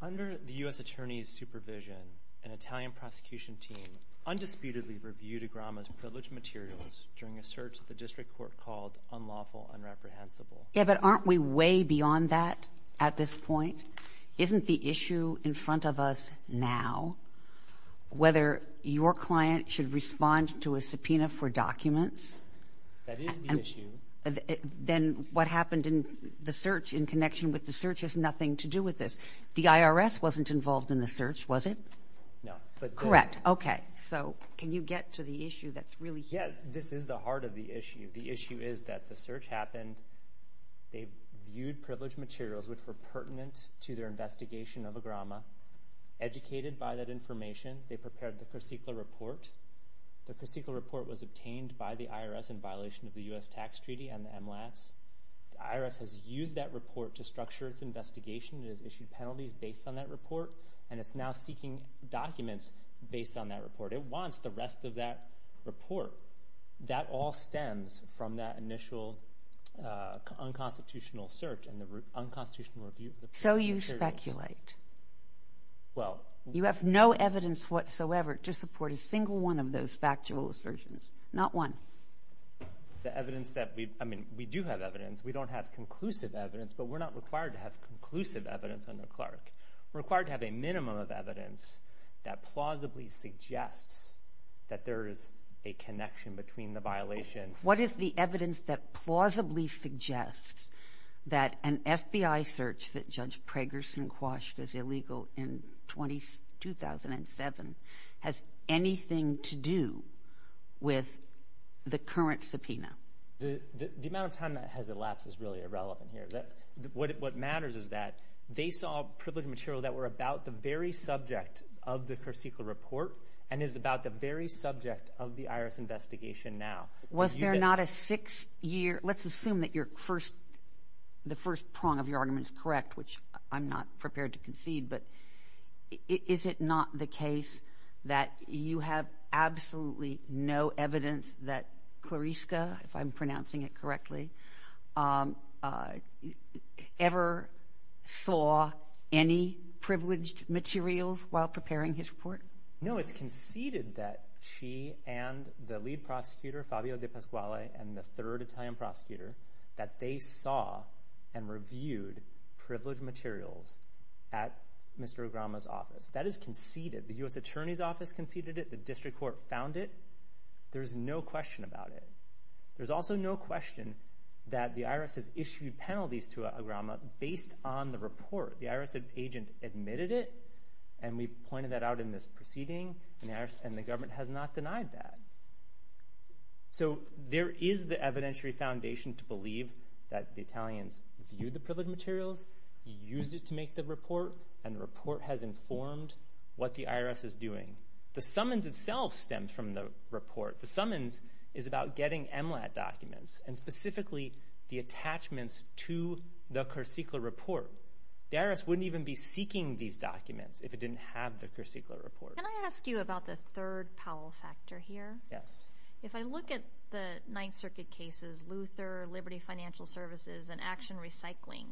Under the U.S. Attorney's supervision, an Italian prosecution team undisputedly reviewed Agrama's privileged materials during a search that the district court called unlawful, unreprehensible. Yeah, but aren't we way beyond that at this point? Isn't the issue in front of us now whether your client should respond to a subpoena for documents? That is the issue. Then what happened in the search in connection with the search has nothing to do with this. The IRS wasn't involved in the search, was it? No. Correct, okay. So can you get to the issue that's really here? Yeah, this is the heart of the issue. The issue is that the search happened. They viewed privileged materials which were pertinent to their investigation of Agrama, educated by that information. They prepared the Corsicla report. The Corsicla report was obtained by the IRS in violation of the U.S. Tax Treaty and the MLATs. The IRS has used that report to structure its investigation. It has issued penalties based on that report, and it's now seeking documents based on that report. It wants the rest of that report. That all stems from that initial unconstitutional search and the unconstitutional review. So you speculate. You have no evidence whatsoever to support a single one of those factual assertions. Not one. The evidence that we... I mean, we do have evidence. We don't have conclusive evidence, but we're not required to have conclusive evidence under Clark. We're required to have a minimum of evidence that plausibly suggests that there is a connection between the violation. What is the evidence that plausibly suggests that an FBI search that Judge Pragerson quashed as illegal in 2007 has anything to do with the current subpoena? The amount of time that has elapsed is really irrelevant here. What matters is that they saw privileged material that were about the very subject of the Kurcykla report and is about the very subject of the IRS investigation now. Was there not a six-year... Let's assume that the first prong of your argument is correct, which I'm not prepared to concede, but is it not the case that you have absolutely no evidence that Klariska, if I'm pronouncing it correctly, ever saw any privileged materials while preparing his report? No. It's conceded that she and the lead prosecutor, Fabio De Pasquale, and the third Italian prosecutor, that they saw and reviewed privileged materials at Mr. Ograma's office. That is conceded. The U.S. Attorney's Office conceded it. The district court found it. There's no question about it. There's also no question that the IRS has issued penalties to Ograma based on the report. The IRS agent admitted it, and we've pointed that out in this proceeding, and the government has not denied that. So there is the evidentiary foundation to believe that the Italians viewed the privileged materials, used it to make the report, and the report has informed what the IRS is doing. The summons itself stemmed from the report. The summons is about getting MLAT documents, and specifically the attachments to the Kersicka report. The IRS wouldn't even be seeking these documents if it didn't have the Kersicka report. Can I ask you about the third Powell factor here? Yes. If I look at the Ninth Circuit cases, Luther, Liberty Financial Services, and Action Recycling,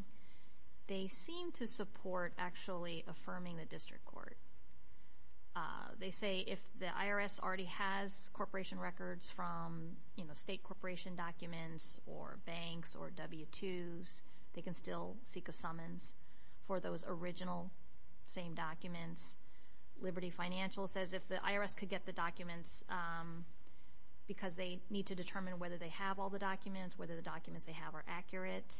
they seem to support actually affirming the district court. They say if the IRS already has corporation records from, you know, state corporation documents, or banks, or W-2s, they can still seek a summons for those original same documents. Liberty Financial says if the IRS could get the documents because they need to determine whether they have all the documents, whether the documents they have are accurate.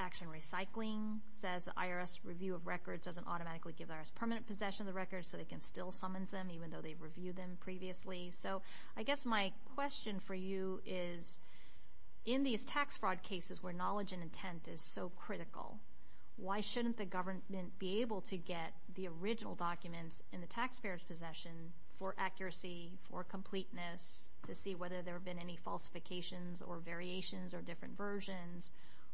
Action Recycling says the IRS review of records doesn't automatically give the IRS permanent possession of the records, so they can still summons them even though they've reviewed them previously. So I guess my question for you is, in these tax fraud cases where knowledge and intent is so critical, why shouldn't the government be able to get the original documents in the taxpayer's possession for accuracy, for completeness, to see whether there have been any falsifications, or variations, or different versions,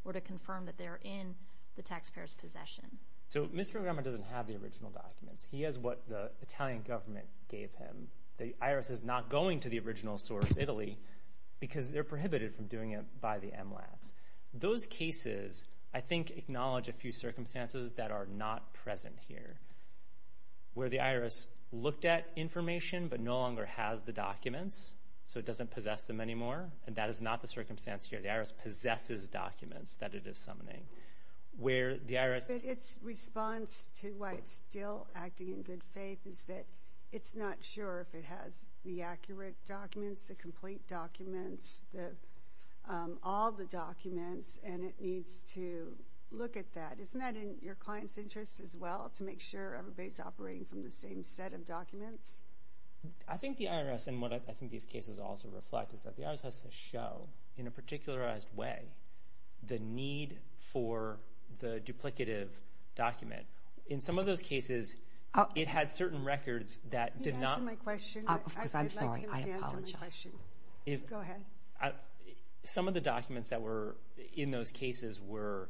or to confirm that they're in the taxpayer's possession? So Mr. Ograma doesn't have the original documents. He has what the Italian government gave him. The IRS is not going to the original source, Italy, because they're prohibited from doing it by the MLATs. Those cases, I think, acknowledge a few circumstances that are not present here. Where the IRS looked at information, but no longer has the documents, so it doesn't possess them anymore. And that is not the circumstance here. The IRS possesses documents that it is summoning. Where the IRS... Its response to why it's still acting in good faith is that it's not sure if it has the accurate documents, the complete documents, all the documents, and it needs to look at that. Isn't that in your client's interest as well, to make sure everybody's operating from the same set of documents? I think the IRS, and what I think these cases also reflect, is that the IRS has to show, in a particularized way, the need for the duplicative document. In some of those cases, it had certain records that did not... Can you answer my question? Because I'm sorry, I apologize. I'd like him to answer my question. Go ahead. Some of the documents that were in those cases were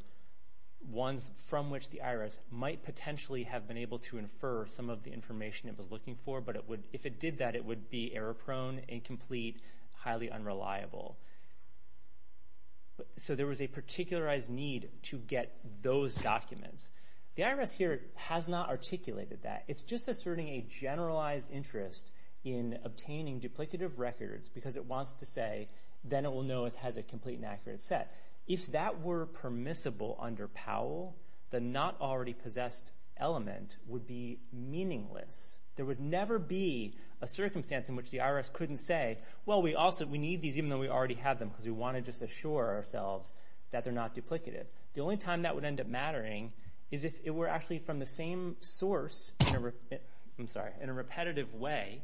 ones from which the IRS might potentially have been able to infer some of the information it was looking for, but if it did that, it would be error-prone, incomplete, highly unreliable. So there was a particularized need to get those documents. The IRS here has not articulated that. It's just asserting a generalized interest in obtaining duplicative records because it wants to say, then it will know it has a complete and accurate set. If that were permissible under Powell, the not-already-possessed element would be meaningless. There would never be a circumstance in which the IRS couldn't say, well, we need these even though we already have them because we want to just assure ourselves that they're not duplicative. The only time that would end up mattering is if it were actually from the same source in a repetitive way,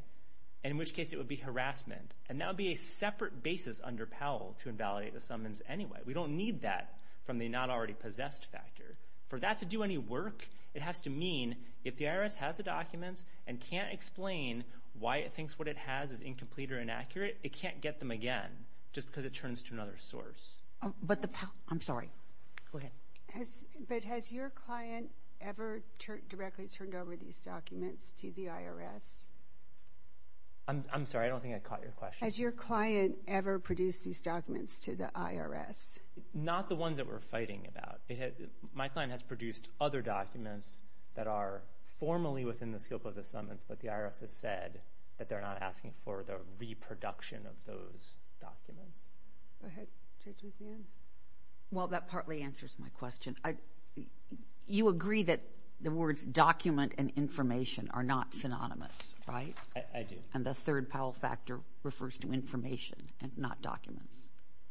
and in which case it would be harassment. And that would be a separate basis under Powell to invalidate the summons anyway. We don't need that from the not-already-possessed factor. For that to do any work, it has to mean, if the IRS has the documents and can't explain why it thinks what it has is incomplete or inaccurate, it can't get them again just because it turns to another source. But the, I'm sorry, go ahead. But has your client ever directly turned over these documents to the IRS? I'm sorry, I don't think I caught your question. Has your client ever produced these documents to the IRS? Not the ones that we're fighting about. My client has produced other documents that are formally within the scope of the summons, but the IRS has said that they're not asking for the reproduction of those documents. Go ahead, Judge McMahon. Well, that partly answers my question. You agree that the words document and information are not synonymous, right? I do. And the third Powell factor refers to information and not documents.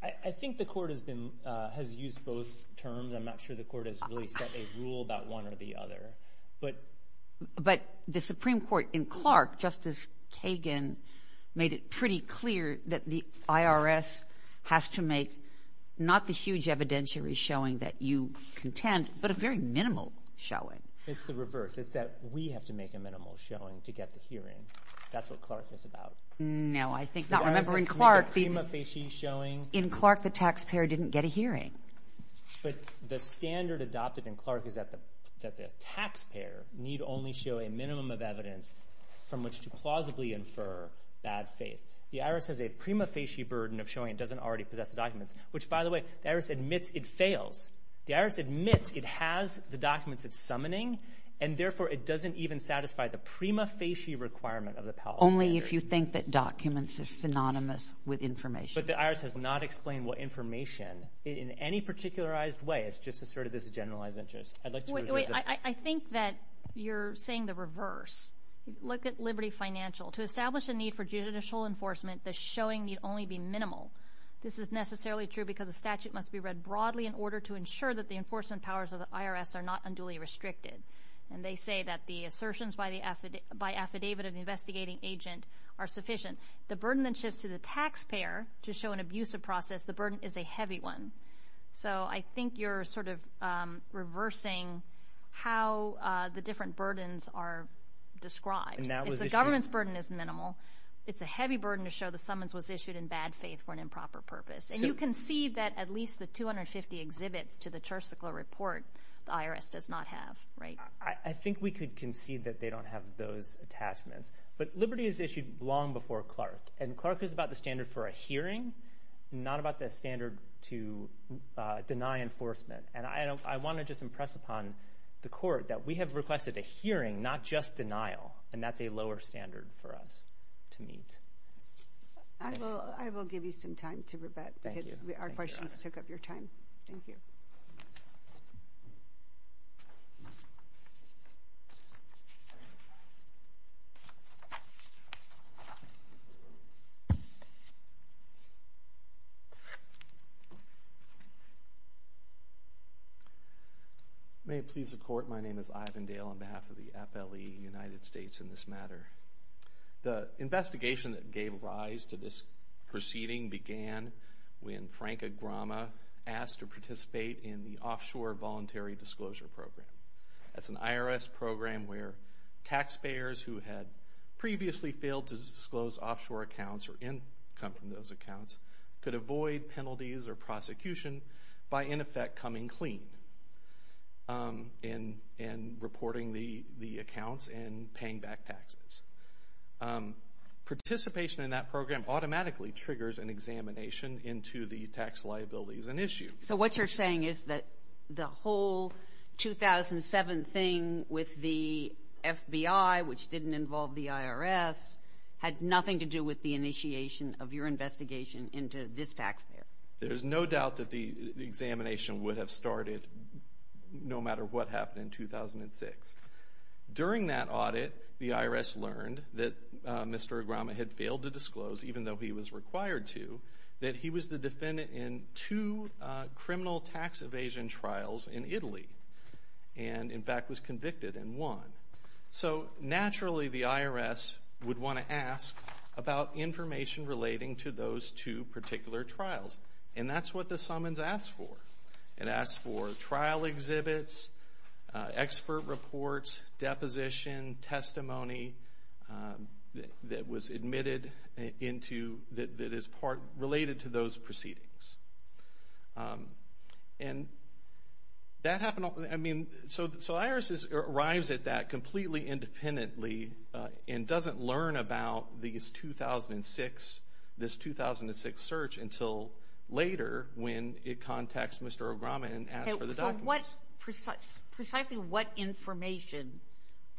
I think the court has used both terms. I'm not sure the court has really set a rule about one or the other. But the Supreme Court in Clark, Justice Kagan, made it pretty clear that the IRS has to make not the huge evidentiary showing that you contend, but a very minimal showing. It's the reverse. It's that we have to make a minimal showing to get the hearing. That's what Clark is about. No, I think not. In Clark, the taxpayer didn't get a hearing. But the standard adopted in Clark is that the taxpayer need only show a minimum of evidence from which to plausibly infer bad faith. The IRS has a prima facie burden of showing it doesn't already possess the documents, which, by the way, the IRS admits it fails. The IRS admits it has the documents it's summoning, and therefore it doesn't even satisfy the prima facie requirement of the Powell factor. Only if you think that documents are synonymous with information. But the IRS has not explained what information, in any particularized way, it's just asserted this generalized interest. I'd like to reserve that. I think that you're saying the reverse. Look at Liberty Financial. To establish a need for judicial enforcement, the showing need only be minimal. This is necessarily true because the statute must be read broadly in order to ensure that the enforcement powers of the IRS are not unduly restricted. And they say that the assertions by the affidavit of the investigating agent are sufficient. The burden then shifts to the taxpayer to show an abusive process. The burden is a heavy one. So I think you're sort of reversing how the different burdens are described. If the government's burden is minimal, it's a heavy burden to show the summons was issued in bad faith for an improper purpose. And you can see that at least the 250 exhibits to the Church-Ficlo report, the IRS does not have, right? I think we could concede that they don't have those attachments. But Liberty is issued long before Clark. And Clark is about the standard for a hearing, not about the standard to deny enforcement. And I want to just impress upon the court that we have requested a hearing, not just denial. And that's a lower standard for us to meet. I will give you some time to rebut because our questions took up your time. Thank you. Thank you. May it please the court, my name is Ivan Dale on behalf of the FLE United States in this matter. The investigation that gave rise to this proceeding began when Frank Agrama asked to participate in the Offshore Voluntary Disclosure Program. That's an IRS program where taxpayers who had previously failed to disclose offshore accounts or income from those accounts could avoid penalties or prosecution by in effect coming clean and reporting the accounts and paying back taxes. Participation in that program automatically triggers an examination into the tax liabilities and issue. So what you're saying is that the whole 2007 thing with the FBI, which didn't involve the IRS, had nothing to do with the initiation of your investigation into this taxpayer? There's no doubt that the examination would have started no matter what happened in 2006. During that audit, the IRS learned that Mr. Agrama had failed to disclose, even though he was required to, that he was the defendant in two criminal tax evasion trials in Italy and in fact was convicted in one. So naturally the IRS would want to ask about information relating to those two particular trials and that's what the summons asked for. It asked for trial exhibits, expert reports, deposition, testimony that was admitted into, that is part, related to those proceedings. And that happened, I mean, so the IRS arrives at that completely independently and doesn't learn about these 2006, this 2006 search until later when it contacts Mr. Agrama and asks for the documents. So what, precisely what information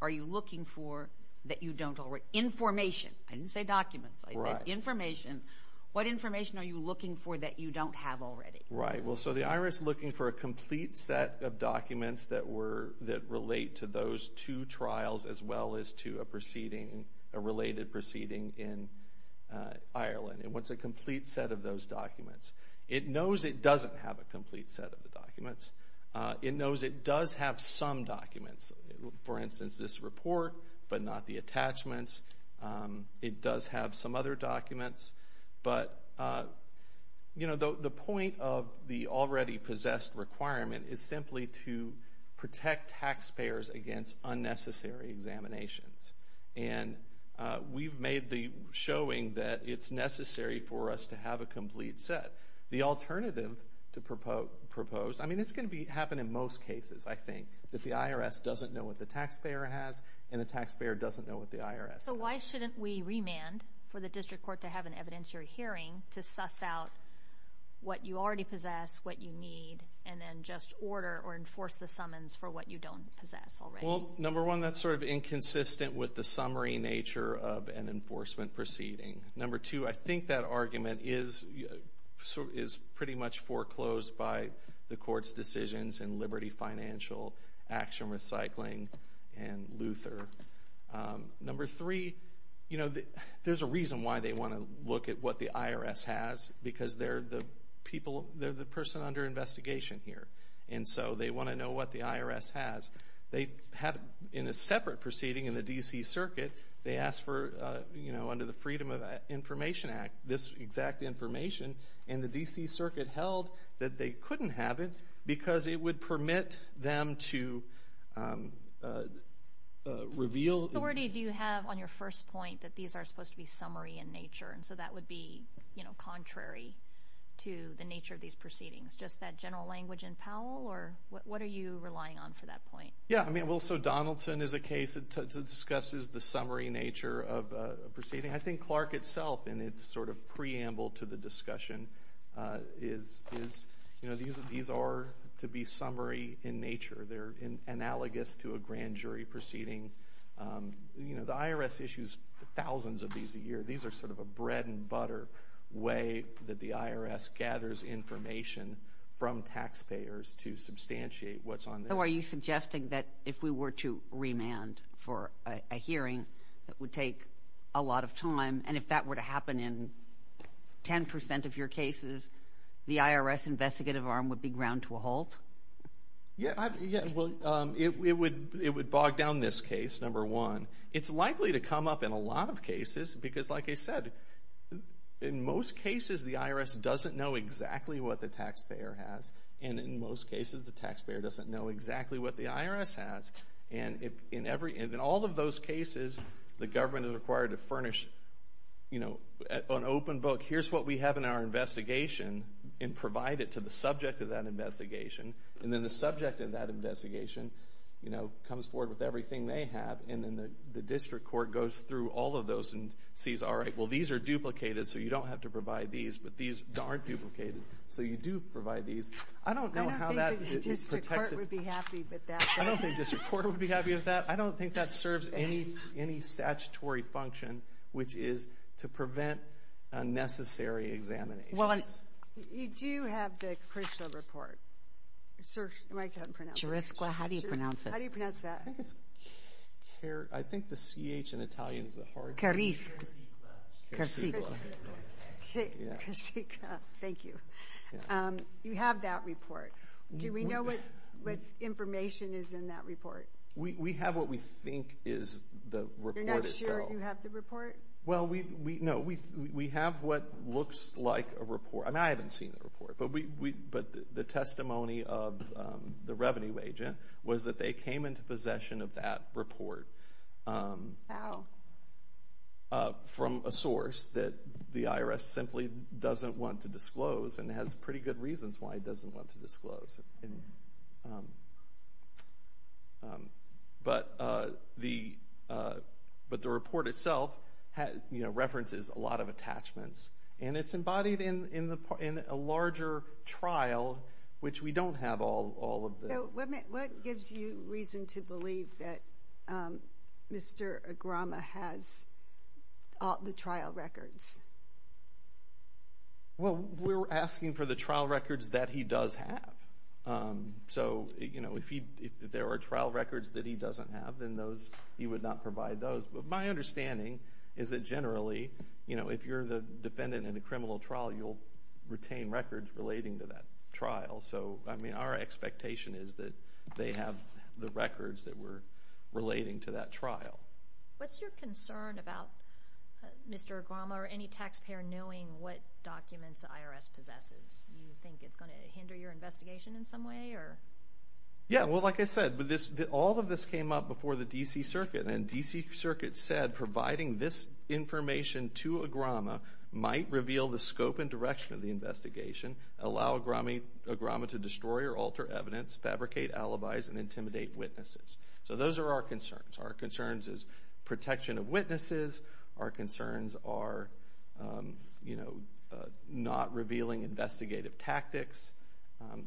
are you looking for that you don't already, information, I didn't say documents, I said information, what information are you looking for that you don't have already? Right, well, so the IRS is looking for a complete set of documents that relate to those two trials as well as to a proceeding, a related proceeding in Ireland. And what's a complete set of those documents? It knows it doesn't have a complete set of the documents. It knows it does have some documents, for instance, this report, but not the attachments. It does have some other documents. But, you know, the point of the already-possessed requirement is simply to protect taxpayers against unnecessary examinations. And we've made the showing that it's necessary for us to have a complete set. The alternative to propose, I mean, it's gonna happen in most cases, I think, that the IRS doesn't know what the taxpayer has and the taxpayer doesn't know what the IRS has. So why shouldn't we remand for the district court to have an evidentiary hearing to suss out what you already possess, what you need, and then just order or enforce the summons for what you don't possess already? Well, number one, that's sort of inconsistent with the summary nature of an enforcement proceeding. Number two, I think that argument is pretty much foreclosed by the court's decisions in Liberty Financial, Action Recycling, and Luther. Number three, you know, there's a reason why they wanna look at what the IRS has, because they're the person under investigation here. And so they wanna know what the IRS has. They have, in a separate proceeding in the D.C. Circuit, they asked for, you know, under the Freedom of Information Act, this exact information, and the D.C. Circuit held that they couldn't have it because it would permit them to reveal... What authority do you have on your first point, that these are supposed to be summary in nature, and so that would be, you know, contrary to the nature of these proceedings? Just that general language in Powell, or what are you relying on for that point? Yeah, I mean, well, so Donaldson is a case that discusses the summary nature of a proceeding. I think Clark itself, in its sort of preamble to the discussion, is, you know, these are to be summary in nature. They're analogous to a grand jury proceeding. You know, the IRS issues thousands of these a year. These are sort of a bread-and-butter way that the IRS gathers information from taxpayers to substantiate what's on there. So are you suggesting that if we were to remand for a hearing that would take a lot of time, and if that were to happen in 10% of your cases, the IRS investigative arm would be ground to a halt? Yeah, well, it would bog down this case, number one. It's likely to come up in a lot of cases, because, like I said, in most cases, the IRS doesn't know exactly what the taxpayer has, and in most cases, the taxpayer doesn't know exactly what the IRS has. And in all of those cases, the government is required to furnish, you know, an open book. Here's what we have in our investigation, and provide it to the subject of that investigation, and then the subject of that investigation, you know, comes forward with everything they have, and then the district court goes through all of those and sees, all right, well, these are duplicated, so you don't have to provide these, but these aren't duplicated, so you do provide these. I don't know how that protects it. I don't think the district court would be happy with that. I don't think district court would be happy with that. I don't think that serves any statutory function, which is to prevent unnecessary examinations. You do have the CRRSCLA report. Sir, am I pronouncing it right? CRRSCLA, how do you pronounce it? How do you pronounce that? I think it's, I think the C-H in Italian is a hard one. CRRSCLA, CRRSCLA, yeah. CRRSCLA, thank you. You have that report. Do we know what information is in that report? We have what we think is the report itself. You're not sure you have the report? Well, no, we have what looks like a report. I mean, I haven't seen the report, but the testimony of the revenue agent was that they came into possession of that report from a source that the IRS simply doesn't want to disclose and has pretty good reasons why it doesn't want to disclose. But the report itself references a lot of attachments and it's embodied in a larger trial, which we don't have all of the... So what gives you reason to believe that Mr. Agrama has the trial records? Well, we're asking for the trial records that he does have. So if there are trial records that he doesn't have, then he would not provide those. But my understanding is that generally, if you're the defendant in a criminal trial, you'll retain records relating to that trial. So I mean, our expectation is that they have the records that were relating to that trial. What's your concern about Mr. Agrama or any taxpayer knowing what documents the IRS possesses? Do you think it's going to hinder your investigation in some way? Yeah, well, like I said, all of this came up before the D.C. Circuit and D.C. Circuit said providing this information to Agrama might reveal the scope and direction of the investigation, allow Agrama to destroy or alter evidence, fabricate alibis, and intimidate witnesses. So those are our concerns. Our concerns is protection of witnesses. Our concerns are not revealing investigative tactics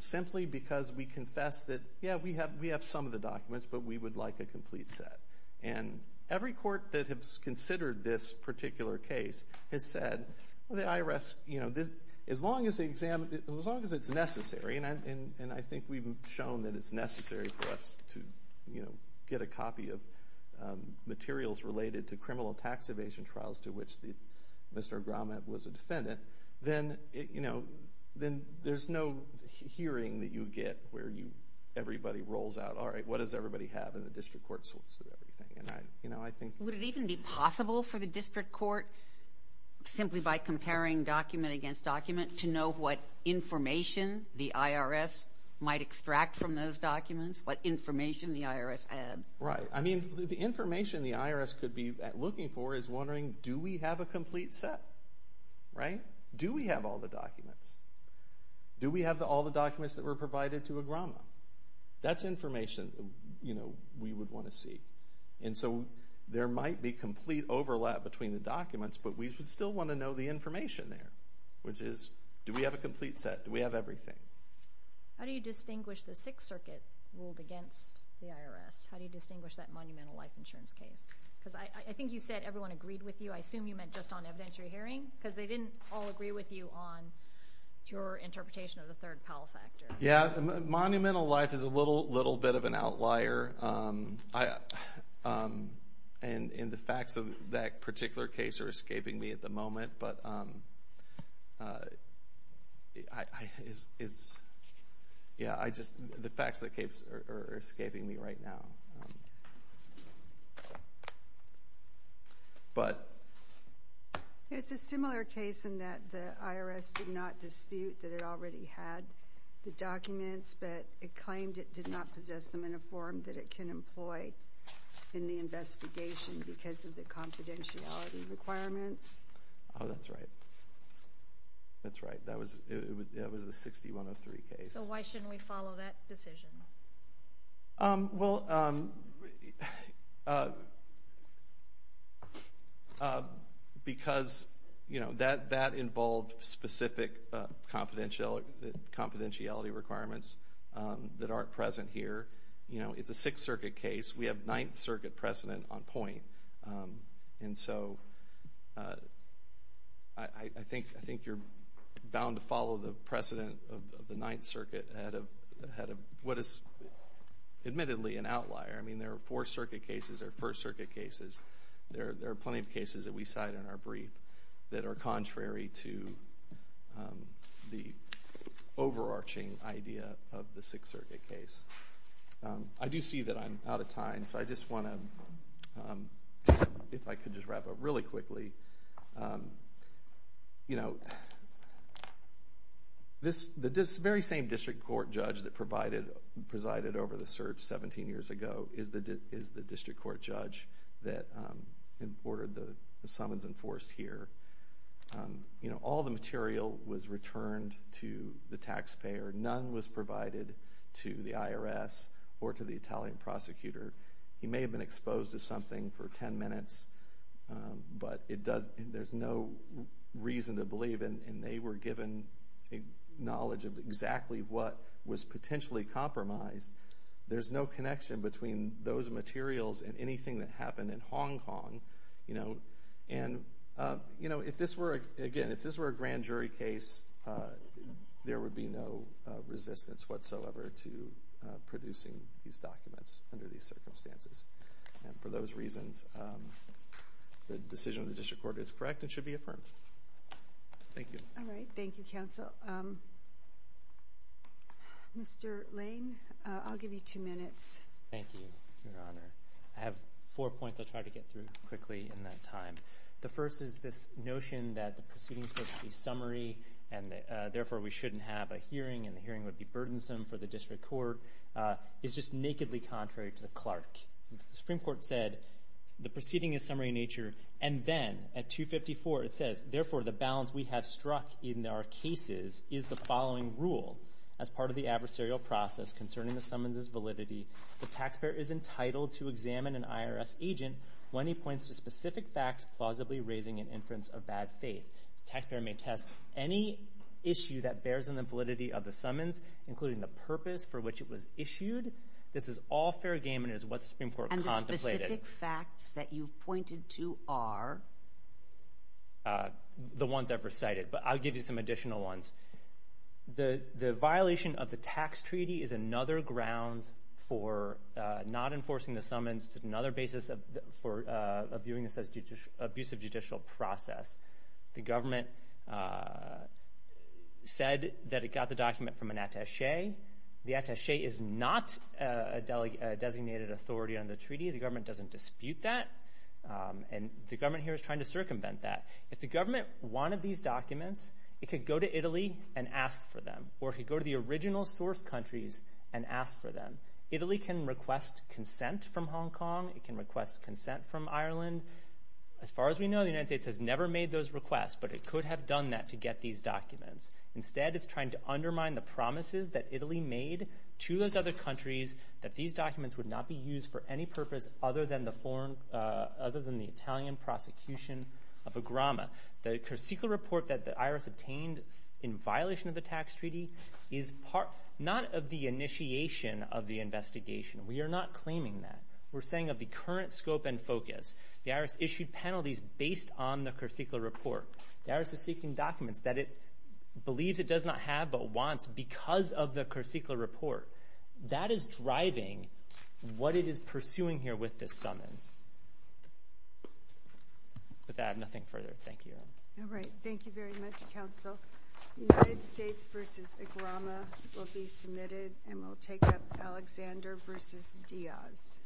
simply because we confess that, yeah, we have some of the documents, but we would like a complete set. And every court that has considered this particular case has said, well, the IRS, as long as it's necessary, and I think we've shown that it's necessary for us to get a copy of materials related to criminal tax evasion trials to which Mr. Agrama was a defendant, then there's no hearing that you get where everybody rolls out, all right, what does everybody have, and the district court sorts through everything. And I think... Would it even be possible for the district court, simply by comparing document against document, to know what information the IRS might extract from those documents? What information the IRS had? Right. I mean, the information the IRS could be looking for is wondering, do we have a complete set? Right? Do we have all the documents? Do we have all the documents that were provided to Agrama? That's information, you know, we would want to see. And so there might be complete overlap between the documents, but we would still want to know the information there, which is, do we have a complete set? Do we have everything? How do you distinguish the Sixth Circuit ruled against the IRS? How do you distinguish that Monumental Life Insurance case? Because I think you said everyone agreed with you. I assume you meant just on evidentiary hearing, because they didn't all agree with you on your interpretation of the third power factor. Yeah, Monumental Life is a little bit of an outlier. And the facts of that particular case are escaping me at the moment, but the facts of the case are escaping me right now. But... There's a similar case in that the IRS did not dispute that it already had the documents, but it claimed it did not possess them in a form that it can employ in the investigation because of the confidentiality requirements. Oh, that's right. That's right. That was the 6103 case. So why shouldn't we follow that decision? Well... Because, you know, that involved specific confidentiality requirements that aren't present here. You know, it's a Sixth Circuit case. We have Ninth Circuit precedent on point. And so I think you're bound to follow the precedent of the Ninth Circuit ahead of what is admittedly an outlier. I mean, there are Fourth Circuit cases. There are First Circuit cases. There are plenty of cases that we cite in our brief that are contrary to the overarching idea of the Sixth Circuit case. I do see that I'm out of time, so I just want to, if I could just wrap up really quickly. You know, this very same district court judge that presided over the search 17 years ago is the district court judge that ordered the summons enforced here. You know, all the material was returned to the taxpayer. None was provided to the IRS or to the Italian prosecutor. He may have been exposed to something for 10 minutes, but there's no reason to believe, and they were given knowledge of exactly what was potentially compromised. There's no connection between those materials and anything that happened in Hong Kong, you know. And, you know, again, if this were a grand jury case, there would be no resistance whatsoever to producing these documents under these circumstances. And for those reasons, the decision of the district court is correct and should be affirmed. Thank you. All right. Thank you, counsel. Mr. Lane, I'll give you two minutes. Thank you, Your Honor. I have four points I'll try to get through quickly in that time. The first is this notion that the proceedings were to be summary and therefore we shouldn't have a hearing and the hearing would be burdensome for the district court is just nakedly contrary to the Clark. The Supreme Court said the proceeding is summary in nature. And then at 254, it says, therefore, the balance we have struck in our cases is the following rule as part of the adversarial process concerning the summons's validity. The taxpayer is entitled to examine an IRS agent when he points to specific facts, plausibly raising an inference of bad faith. Taxpayer may test any issue that bears on the validity of the summons, including the purpose for which it was issued. This is all fair game and is what the Supreme Court contemplated. And the specific facts that you've pointed to are? The ones I've recited, but I'll give you some additional ones. The violation of the tax treaty is another grounds for not enforcing the summons, another basis for viewing this as an abusive judicial process. The government said that it got the document from an attache. The attache is not a designated authority on the treaty. The government doesn't dispute that. And the government here is trying to circumvent that. If the government wanted these documents, it could go to Italy and ask for them or could go to the original source countries and ask for them. Italy can request consent from Hong Kong. It can request consent from Ireland. As far as we know, the United States has never made those requests, but it could have done that to get these documents. Instead, it's trying to undermine the promises that Italy made to those other countries that these documents would not be used for any purpose other than the Italian prosecution of a grama. The secret report that the IRS obtained in violation of the tax treaty is not of the initiation of the investigation. We're saying of the current scope and focus, the IRS issued penalties based on the Corsicla report. The IRS is seeking documents that it believes it does not have but wants because of the Corsicla report. That is driving what it is pursuing here with this summons. With that, nothing further. Thank you. All right. Thank you very much, counsel. United States versus a grama will be submitted and we'll take up Alexander versus Diaz.